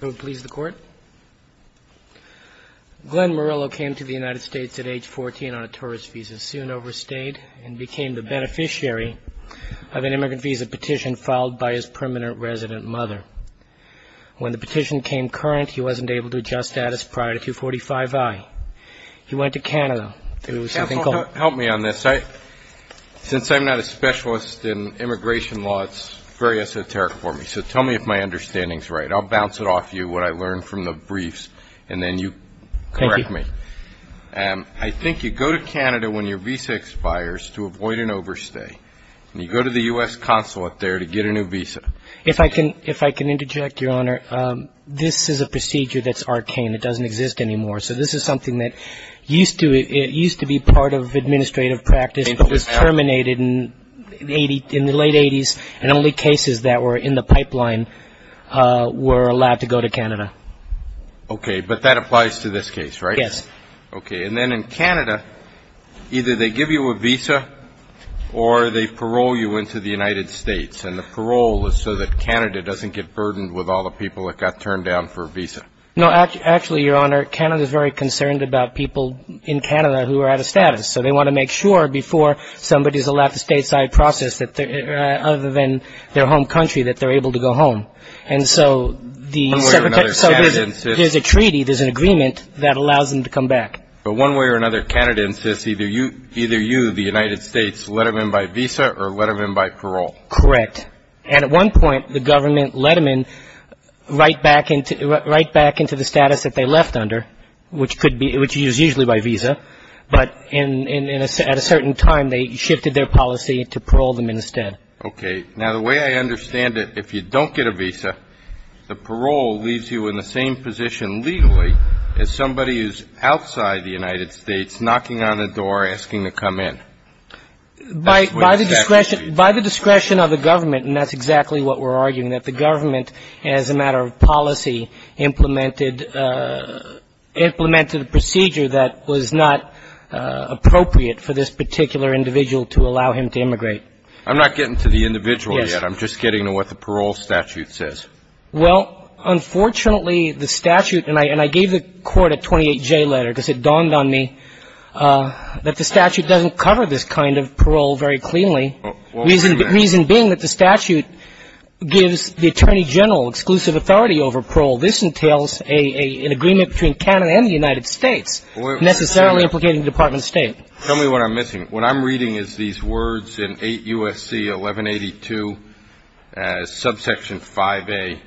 Glenn Murillo came to the United States at age 14 on a tourist visa, soon overstayed, and became the beneficiary of an immigrant visa petition filed by his permanent resident mother. When the petition came current, he wasn't able to adjust status prior to 245i. He went to Canada. Can you help me on this? Since I'm not a specialist in immigration law, it's very esoteric for me. So tell me if my understanding is right. I'll bounce it off you what I learned from the briefs, and then you correct me. Thank you. I think you go to Canada when your visa expires to avoid an overstay, and you go to the U.S. consulate there to get a new visa. If I can interject, Your Honor, this is a procedure that's arcane. It doesn't exist anymore. So this is something that used to be part of administrative practice but was terminated in the late 80s, and only cases that were in the pipeline were allowed to go to Canada. Okay, but that applies to this case, right? Yes. Okay. And then in Canada, either they give you a visa or they parole you into the United States, and the parole is so that Canada doesn't get burdened with all the people that got turned down for a visa. No, actually, Your Honor, Canada is very concerned about people in Canada who are out of status. So they want to make sure before somebody is allowed to stay outside process other than their home country that they're able to go home. One way or another, Canada insists... So there's a treaty, there's an agreement that allows them to come back. But one way or another, Canada insists either you, the United States, let them in by visa or let them in by parole. Correct. And at one point, the government let them in right back into the status that they left under, which is usually by visa, but at a certain time, they shifted their policy to parole them instead. Okay. Now, the way I understand it, if you don't get a visa, the parole leaves you in the same position legally as somebody who's outside the United States knocking on a door asking to come in. By the discretion of the government, and that's exactly what we're arguing, that the government, as a matter of policy, implemented a procedure that was not appropriate for this particular individual to allow him to immigrate. I'm not getting to the individual yet. Yes. I'm just getting to what the parole statute says. Well, unfortunately, the statute, and I gave the Court a 28-J letter because it dawned on me that the statute doesn't cover this kind of parole very cleanly, reason being that the statute gives the Attorney General exclusive authority over parole. This entails an agreement between Canada and the United States, necessarily implicating the Department of State. Tell me what I'm missing. What I'm reading is these words in 8 U.S.C. 1182, subsection 5A.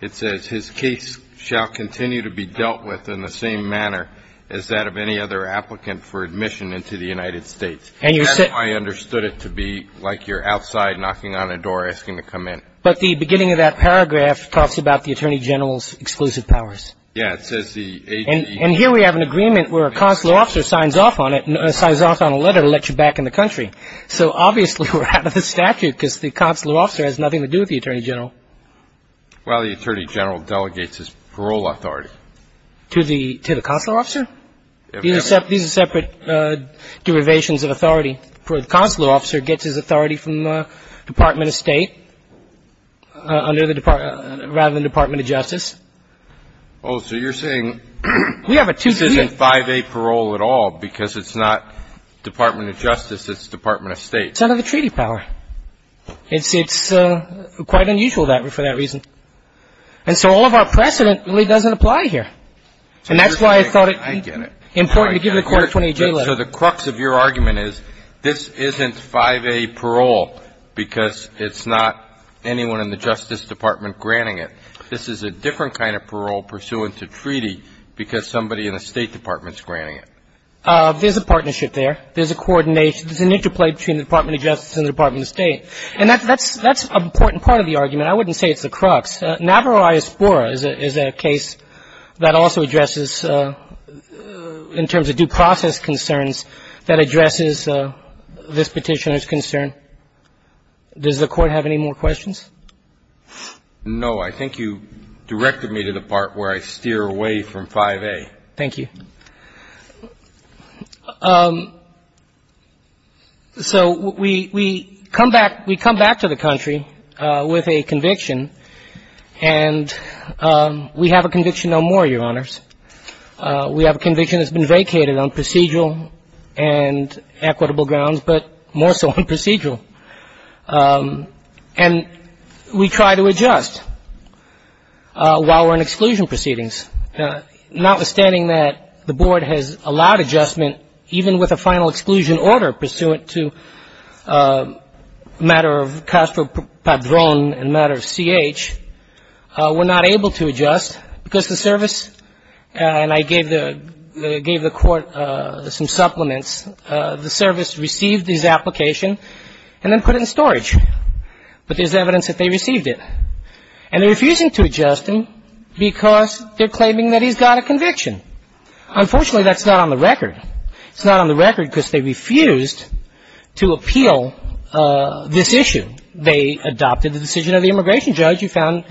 It says, His case shall continue to be dealt with in the same manner as that of any other applicant for admission into the United States. That's how I understood it to be, like you're outside knocking on a door asking to come in. But the beginning of that paragraph talks about the Attorney General's exclusive powers. Yes. And here we have an agreement where a consular officer signs off on it, signs off on a letter to let you back in the country. So obviously we're out of the statute because the consular officer has nothing to do with the Attorney General. Well, the Attorney General delegates his parole authority. To the consular officer? These are separate derivations of authority. The consular officer gets his authority from the Department of State rather than the Department of Justice. Oh, so you're saying this isn't 5A parole at all because it's not Department of Justice, it's Department of State. It's under the treaty power. It's quite unusual for that reason. And so all of our precedent really doesn't apply here. And that's why I thought it would be important to give the Court a 28-J letter. So the crux of your argument is this isn't 5A parole because it's not anyone in the Justice Department granting it. This is a different kind of parole pursuant to treaty because somebody in the State Department is granting it. There's a partnership there. There's a coordination. There's an interplay between the Department of Justice and the Department of State. And that's an important part of the argument. I wouldn't say it's the crux. Navarro v. Spora is a case that also addresses, in terms of due process concerns, that addresses this Petitioner's concern. Does the Court have any more questions? No. I think you directed me to the part where I steer away from 5A. Thank you. So we come back to the country with a conviction, and we have a conviction no more, Your Honors. We have a conviction that's been vacated on procedural and equitable grounds, but more so on procedural. And we try to adjust while we're in exclusion proceedings. Notwithstanding that the Board has allowed adjustment, even with a final exclusion order pursuant to matter of Castro Padron and matter of C.H., we're not able to adjust because the service, and I gave the Court some supplements, the service received his application and then put it in storage. But there's evidence that they received it. And they're refusing to adjust him because they're claiming that he's got a conviction. Unfortunately, that's not on the record. It's not on the record because they refused to appeal this issue. They adopted the decision of the immigration judge who found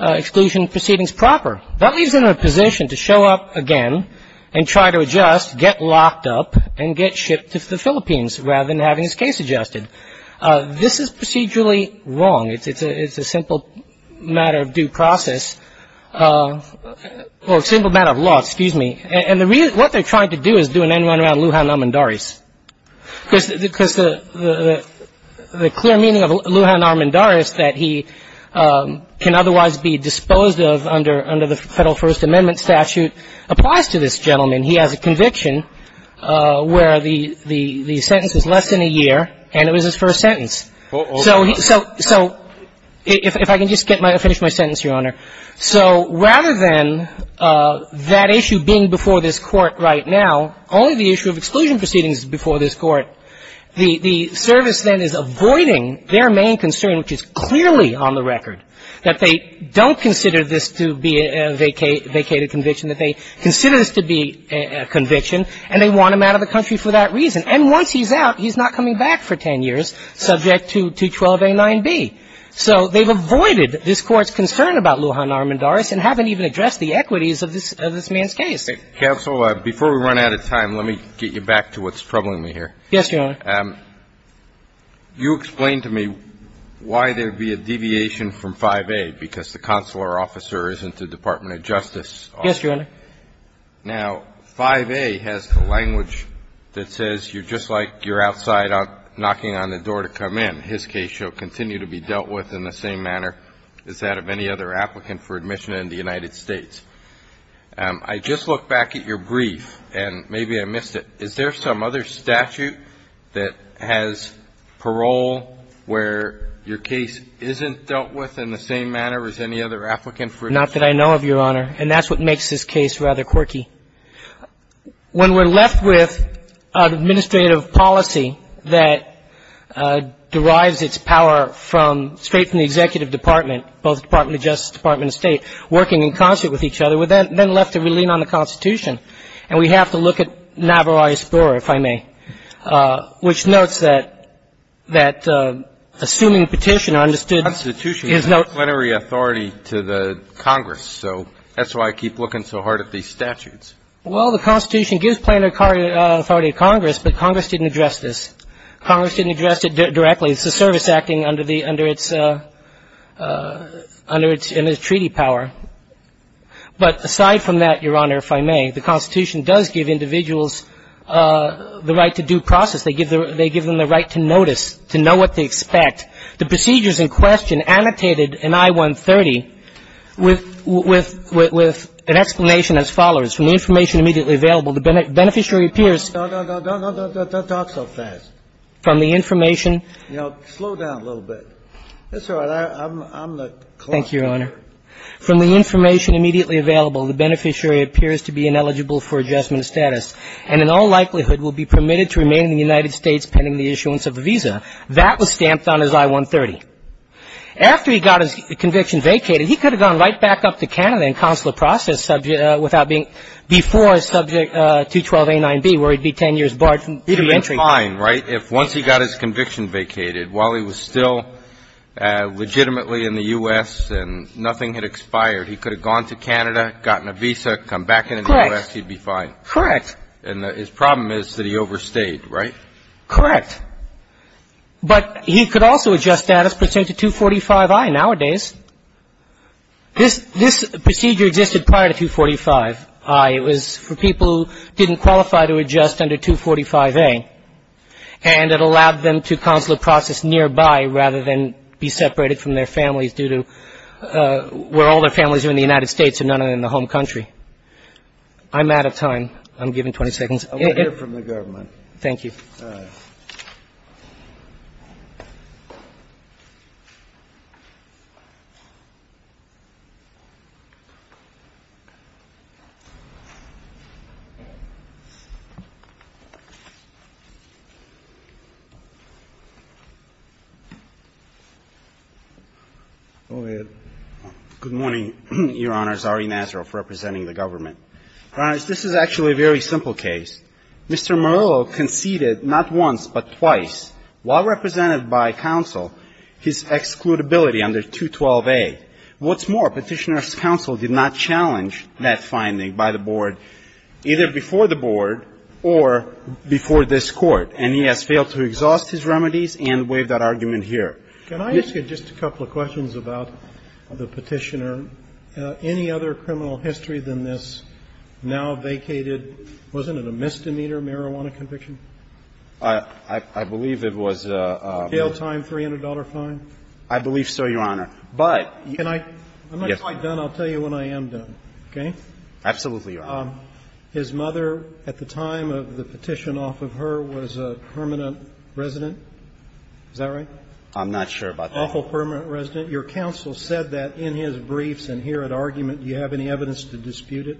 exclusion proceedings proper. That leaves him in a position to show up again and try to adjust, get locked up, and get shipped to the Philippines rather than having his case adjusted. This is procedurally wrong. It's a simple matter of due process or simple matter of law. Excuse me. And what they're trying to do is do an end-run around Lujan Armendariz Because the clear meaning of Lujan Armendariz, that he can otherwise be disposed of under the Federal First Amendment statute, applies to this gentleman. He has a conviction where the sentence is less than a year, and it was his first sentence. So if I can just finish my sentence, Your Honor. So rather than that issue being before this Court right now, only the issue of exclusion proceedings is before this Court. The service then is avoiding their main concern, which is clearly on the record, that they don't consider this to be a vacated conviction, that they consider this to be a conviction, and they want him out of the country for that reason. And once he's out, he's not coming back for 10 years subject to 12a 9b. So they've avoided this Court's concern about Lujan Armendariz and haven't even addressed the equities of this man's case. Counsel, before we run out of time, let me get you back to what's troubling me here. Yes, Your Honor. You explained to me why there would be a deviation from 5a, because the consular officer isn't the Department of Justice officer. Yes, Your Honor. Now, 5a has the language that says you're just like you're outside knocking on the door to come in. So how can I make a case that the person in his case shall continue to be dealt with in the same manner as that of any other applicant for admission in the United States? I just look back at your brief, and maybe I missed it. Is there some other statute that has parole where your case isn't dealt with in the same manner as any other applicant for admission? Not that I know of, Your Honor. And that's what makes this case rather quirky. When we're left with an administrative policy that derives its power from, straight from the executive department, both the Department of Justice, Department of State, working in concert with each other, we're then left to relean on the Constitution. And we have to look at Navajo Explorer, if I may, which notes that assuming petitioner understood the Constitution is not a plenary authority to the Congress. So that's why I keep looking so hard at these statutes. Well, the Constitution gives plenary authority to Congress, but Congress didn't address this. Congress didn't address it directly. It's a service acting under its treaty power. But aside from that, Your Honor, if I may, the Constitution does give individuals the right to due process. They give them the right to notice, to know what they expect. The procedures in question annotated in I-130 with an explanation as follows. From the information immediately available, the beneficiary appears to be ineligible for adjustment of status, and in all likelihood will be permitted to remain in the United States pending the issuance of a visa. That was stamped on as I-130. After he got his conviction vacated, he could have gone right back up to Canada and counsel a process subject without being before subject 212a9b, where he'd be 10 years barred from entering. He'd have been fine, right? If once he got his conviction vacated, while he was still legitimately in the U.S. and nothing had expired, he could have gone to Canada, gotten a visa, come back into the U.S. Correct. He'd be fine. Correct. And his problem is that he overstayed, right? Correct. But he could also adjust status pursuant to 245i nowadays. This procedure existed prior to 245i. It was for people who didn't qualify to adjust under 245a, and it allowed them to counsel a process nearby rather than be separated from their families due to where all their families are in the United States and none are in the home country. I'm out of time. I'm given 20 seconds. I want to hear from the government. Thank you. Go ahead. Good morning, Your Honors. Ari Nazaroff representing the government. Your Honors, this is actually a very simple case. Mr. Morello conceded not once but twice, while represented by counsel, his excludability under 212a. What's more, Petitioner's counsel did not challenge that finding by the board either before the board or before this Court, and he has failed to exhaust his remedies and waive that argument here. Can I ask you just a couple of questions about the Petitioner? Any other criminal history than this now vacated? Wasn't it a misdemeanor marijuana conviction? I believe it was a ---- A jail time, $300 fine? I believe so, Your Honor. But ---- Can I? I'm not quite done. I'll tell you when I am done. Okay? Absolutely, Your Honor. His mother, at the time of the petition off of her, was a permanent resident. Is that right? I'm not sure about that. Your counsel said that in his briefs and here at argument. Do you have any evidence to dispute it?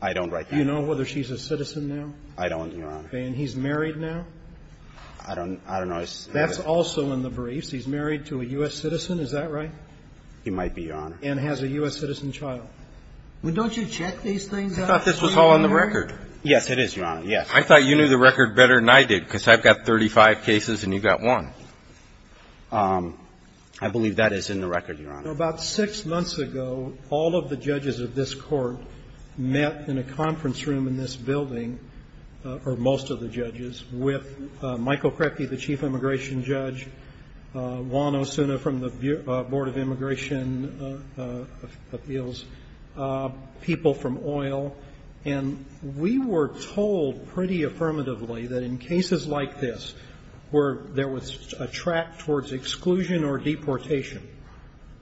I don't, Your Honor. Do you know whether she's a citizen now? I don't, Your Honor. Okay. And he's married now? I don't know. That's also in the briefs. He's married to a U.S. citizen. Is that right? He might be, Your Honor. And has a U.S. citizen child. Well, don't you check these things out? I thought this was all on the record. Yes, it is, Your Honor. Yes. I thought you knew the record better than I did, because I've got 35 cases and you've got one. I believe that is in the record, Your Honor. Now, about six months ago, all of the judges of this Court met in a conference room in this building, or most of the judges, with Michael Krepke, the chief immigration judge, Juan Osuna from the Board of Immigration Appeals, people from oil. And we were told pretty affirmatively that in cases like this where there was a track towards exclusion or deportation,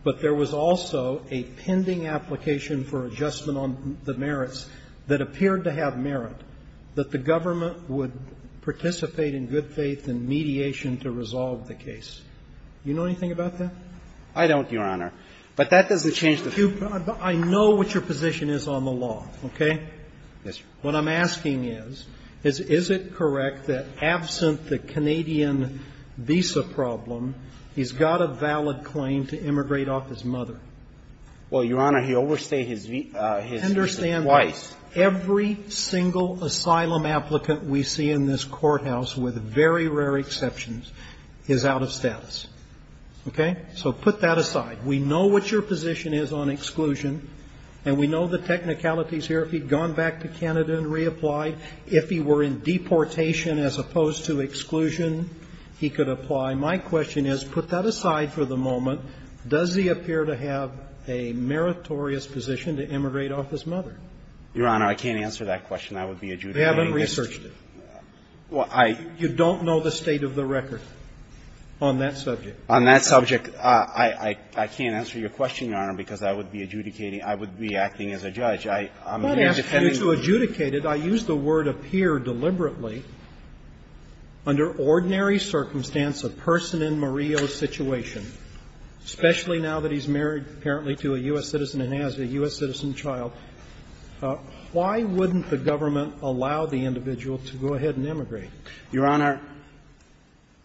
but there was also a pending application for adjustment on the merits that appeared to have merit, that the government would participate in good faith and mediation to resolve the case. Do you know anything about that? I don't, Your Honor. But that doesn't change the fact. I know what your position is on the law, okay? Yes, sir. What I'm asking is, is it correct that absent the Canadian visa problem, he's got a valid claim to immigrate off his mother? Well, Your Honor, he overstayed his visa twice. Understand, every single asylum applicant we see in this courthouse, with very rare exceptions, is out of status. Okay? So put that aside. We know what your position is on exclusion, and we know the technicalities here. If he'd gone back to Canada and reapplied, if he were in deportation as opposed to exclusion, he could apply. My question is, put that aside for the moment. Does he appear to have a meritorious position to immigrate off his mother? Your Honor, I can't answer that question. I would be adjudicating that. They haven't researched it. Well, I — You don't know the state of the record on that subject. On that subject, I can't answer your question, Your Honor, because I would be adjudicating — I would be acting as a judge. I'm here defending — I'm not asking you to adjudicate it. I use the word appear deliberately. Under ordinary circumstance, a person in Murillo's situation, especially now that he's married apparently to a U.S. citizen and has a U.S. citizen child, why wouldn't the government allow the individual to go ahead and immigrate? Your Honor,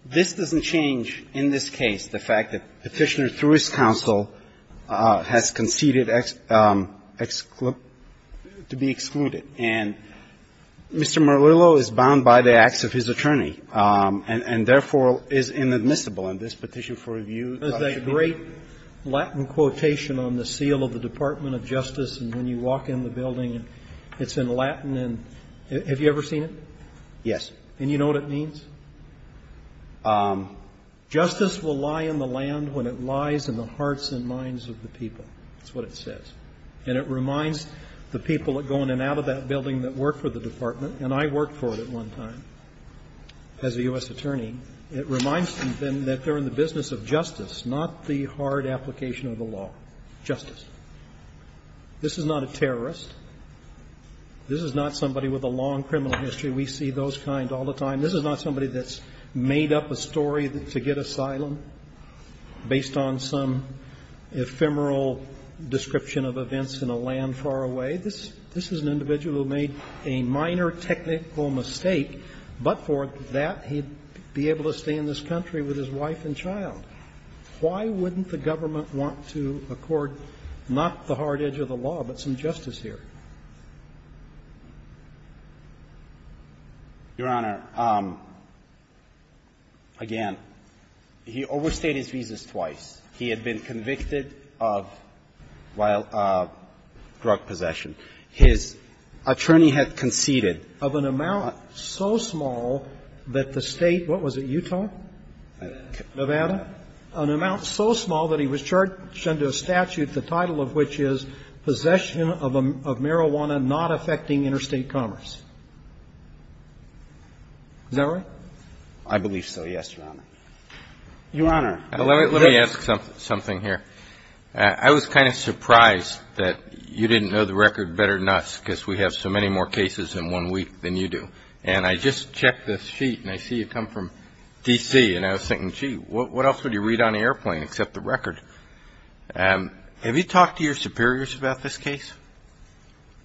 this doesn't change in this case the fact that Petitioner, through his counsel, has conceded to be excluded. And Mr. Murillo is bound by the acts of his attorney and therefore is inadmissible in this petition for review. Is that a great Latin quotation on the seal of the Department of Justice, and when you walk in the building, it's in Latin, and have you ever seen it? And you know what it means? Justice will lie in the land when it lies in the hearts and minds of the people. That's what it says. And it reminds the people that go in and out of that building that work for the department — and I worked for it at one time as a U.S. attorney — it reminds them then that they're in the business of justice, not the hard application of the law. Justice. This is not a terrorist. This is not somebody with a long criminal history. We see those kind all the time. This is not somebody that's made up a story to get asylum based on some ephemeral description of events in a land far away. This is an individual who made a minor technical mistake, but for that he'd be able to stay in this country with his wife and child. Why wouldn't the government want to accord not the hard edge of the law, but some justice here? Your Honor, again, he overstayed his visas twice. He had been convicted of drug possession. His attorney had conceded of an amount so small that the State — what was it, Utah? Nevada. Nevada. An amount so small that he was charged under a statute, the title of which is Possession of Marijuana Not Affecting Interstate Commerce. Is that right? I believe so, yes, Your Honor. Your Honor. Let me ask something here. I was kind of surprised that you didn't know the record better than us because we have so many more cases in one week than you do. And I just checked this sheet and I see you come from D.C. and I was thinking, gee, what else would you read on an airplane except the record? Have you talked to your superiors about this case?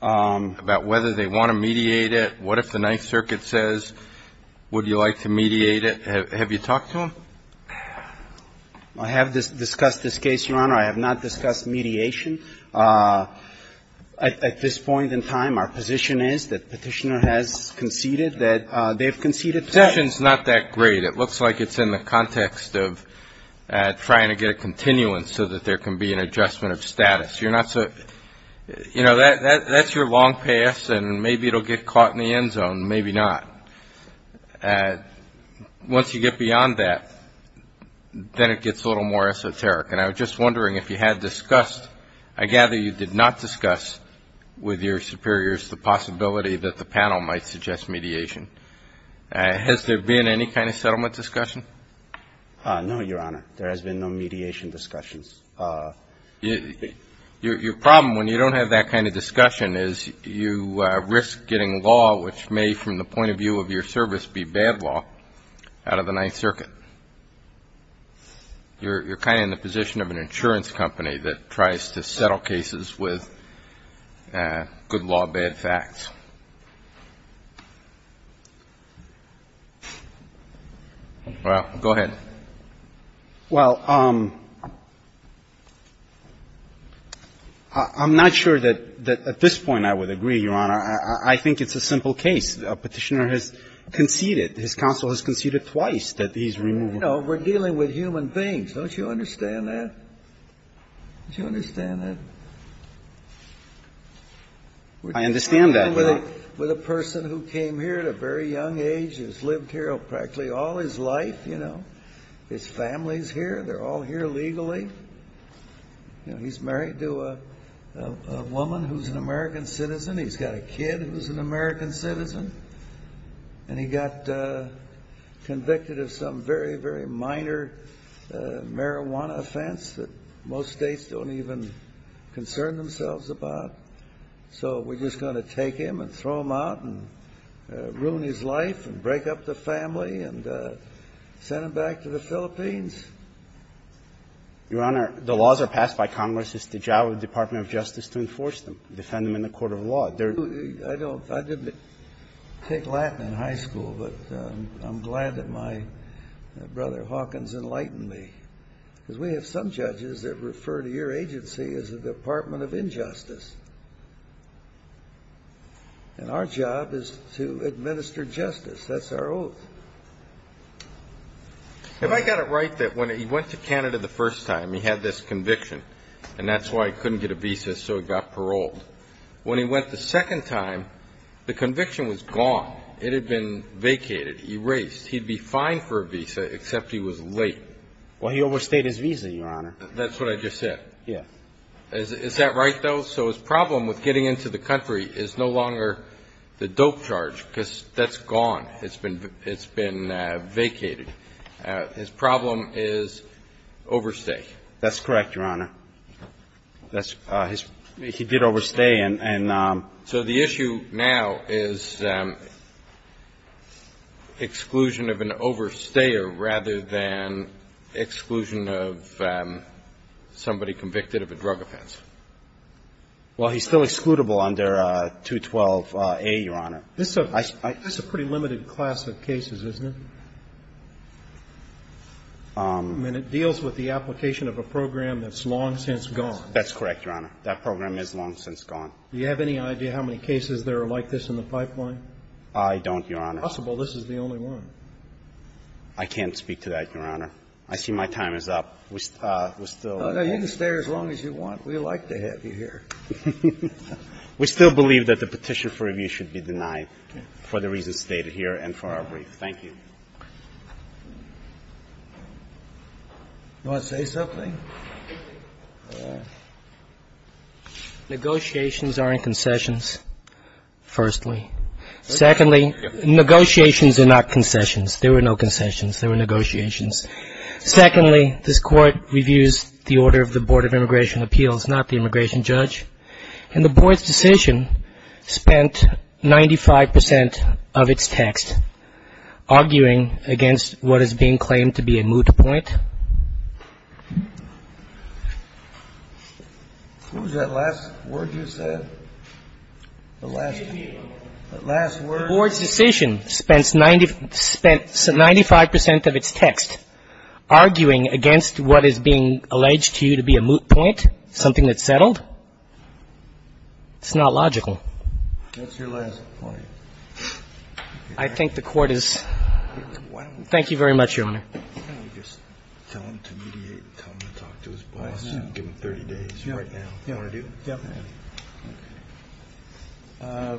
About whether they want to mediate it? What if the Ninth Circuit says, would you like to mediate it? Have you talked to them? I have discussed this case, Your Honor. I have not discussed mediation. At this point in time, our position is that Petitioner has conceded, that they've conceded. Petition's not that great. It looks like it's in the context of trying to get a continuance so that there can be an adjustment of status. You're not so, you know, that's your long pass and maybe it will get caught in the end zone, maybe not. Once you get beyond that, then it gets a little more esoteric. And I was just wondering if you had discussed, I gather you did not discuss with your superiors the possibility that the panel might suggest mediation. Has there been any kind of settlement discussion? No, Your Honor. There has been no mediation discussions. Your problem when you don't have that kind of discussion is you risk getting law, which may from the point of view of your service be bad law, out of the Ninth Circuit. You're kind of in the position of an insurance company that tries to settle cases with good law, bad facts. Well, go ahead. Well, I'm not sure that at this point I would agree, Your Honor. I think it's a simple case. Petitioner has conceded. His counsel has conceded twice that he's removed. You know, we're dealing with human beings. Don't you understand that? Don't you understand that? I understand that. With a person who came here at a very young age, has lived here practically all his life, you know. His family is here. They're all here legally. You know, he's married to a woman who's an American citizen. He's got a kid who's an American citizen. And he got convicted of some very, very minor marijuana offense that most States don't even concern themselves about. So we're just going to take him and throw him out and ruin his life and break up the family and send him back to the Philippines? Your Honor, the laws are passed by Congress. It's the job of the Department of Justice to enforce them, defend them in the court of law. I didn't take Latin in high school, but I'm glad that my brother Hawkins enlightened me. Because we have some judges that refer to your agency as the Department of Injustice. And our job is to administer justice. That's our oath. Have I got it right that when he went to Canada the first time, he had this conviction, and that's why he couldn't get a visa, so he got paroled? When he went the second time, the conviction was gone. It had been vacated, erased. He'd be fine for a visa, except he was late. Well, he overstayed his visa, Your Honor. That's what I just said. Yes. Is that right, though? So his problem with getting into the country is no longer the dope charge, because that's gone. It's been vacated. His problem is overstay. That's correct, Your Honor. He did overstay. So the issue now is exclusion of an overstayer rather than exclusion of somebody convicted of a drug offense. Well, he's still excludable under 212A, Your Honor. That's a pretty limited class of cases, isn't it? I mean, it deals with the application of a program that's long since gone. That's correct, Your Honor. That program is long since gone. Do you have any idea how many cases there are like this in the pipeline? I don't, Your Honor. It's possible this is the only one. I can't speak to that, Your Honor. I see my time is up. We're still waiting. You can stay as long as you want. We'd like to have you here. We still believe that the petition for review should be denied for the reasons stated here and for our brief. Thank you. Do you want to say something? Negotiations aren't concessions, firstly. Secondly, negotiations are not concessions. There were no concessions. There were negotiations. Secondly, this Court reviews the order of the Board of Immigration Appeals, not the immigration judge. And the Board's decision spent 95% of its text arguing against what is being claimed to be a moot point. What was that last word you said? The last word? The Board's decision spent 95% of its text arguing against what is being alleged to you to be a moot point, something that's settled. It's not logical. That's your last point. I think the Court is ‑‑ thank you very much, Your Honor. Why don't we just tell him to mediate and tell him to talk to his boss and give him 30 days right now. Do you want to do that? Yeah.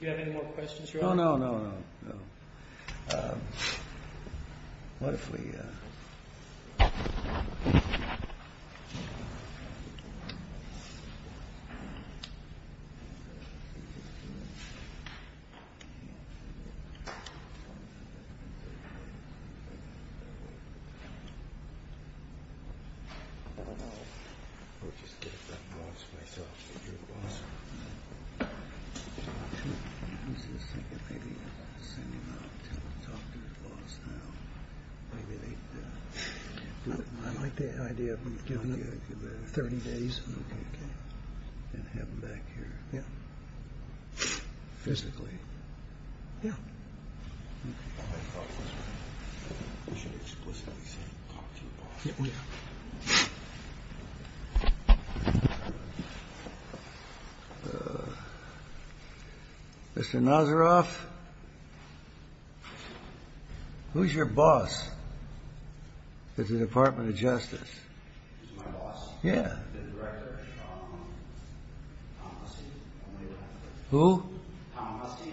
Do you have any more questions, Your Honor? No, no, no, no. What if we ‑‑ I like the idea of giving him 30 days and have him back here. Yeah. Physically. Yeah. I thought we should explicitly say talk to your boss. Yeah. Mr. Nazaroff, who's your boss at the Department of Justice? Who's my boss? Yeah. The director, Tom Lusty. Who? Tom Lusty.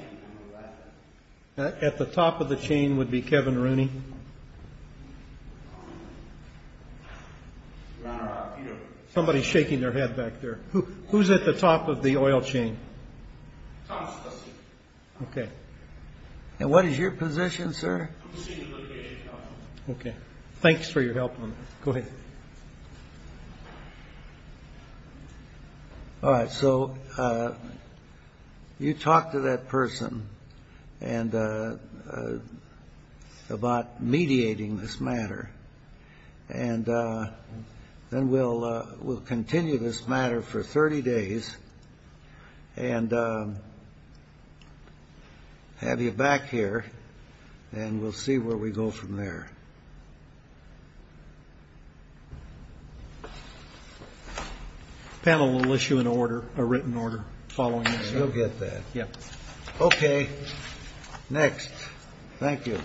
At the top of the chain would be Kevin Rooney. Somebody's shaking their head back there. Who's at the top of the oil chain? Tom Lusty. Okay. And what is your position, sir? I'm a senior litigation counsel. Okay. Thanks for your help on that. Go ahead. All right. So you talk to that person about mediating this matter. And then we'll continue this matter for 30 days and have you back here, and we'll see where we go from there. Okay. Panel will issue a written order following this. You'll get that. Yep. Okay. Next. Thank you. Thank you.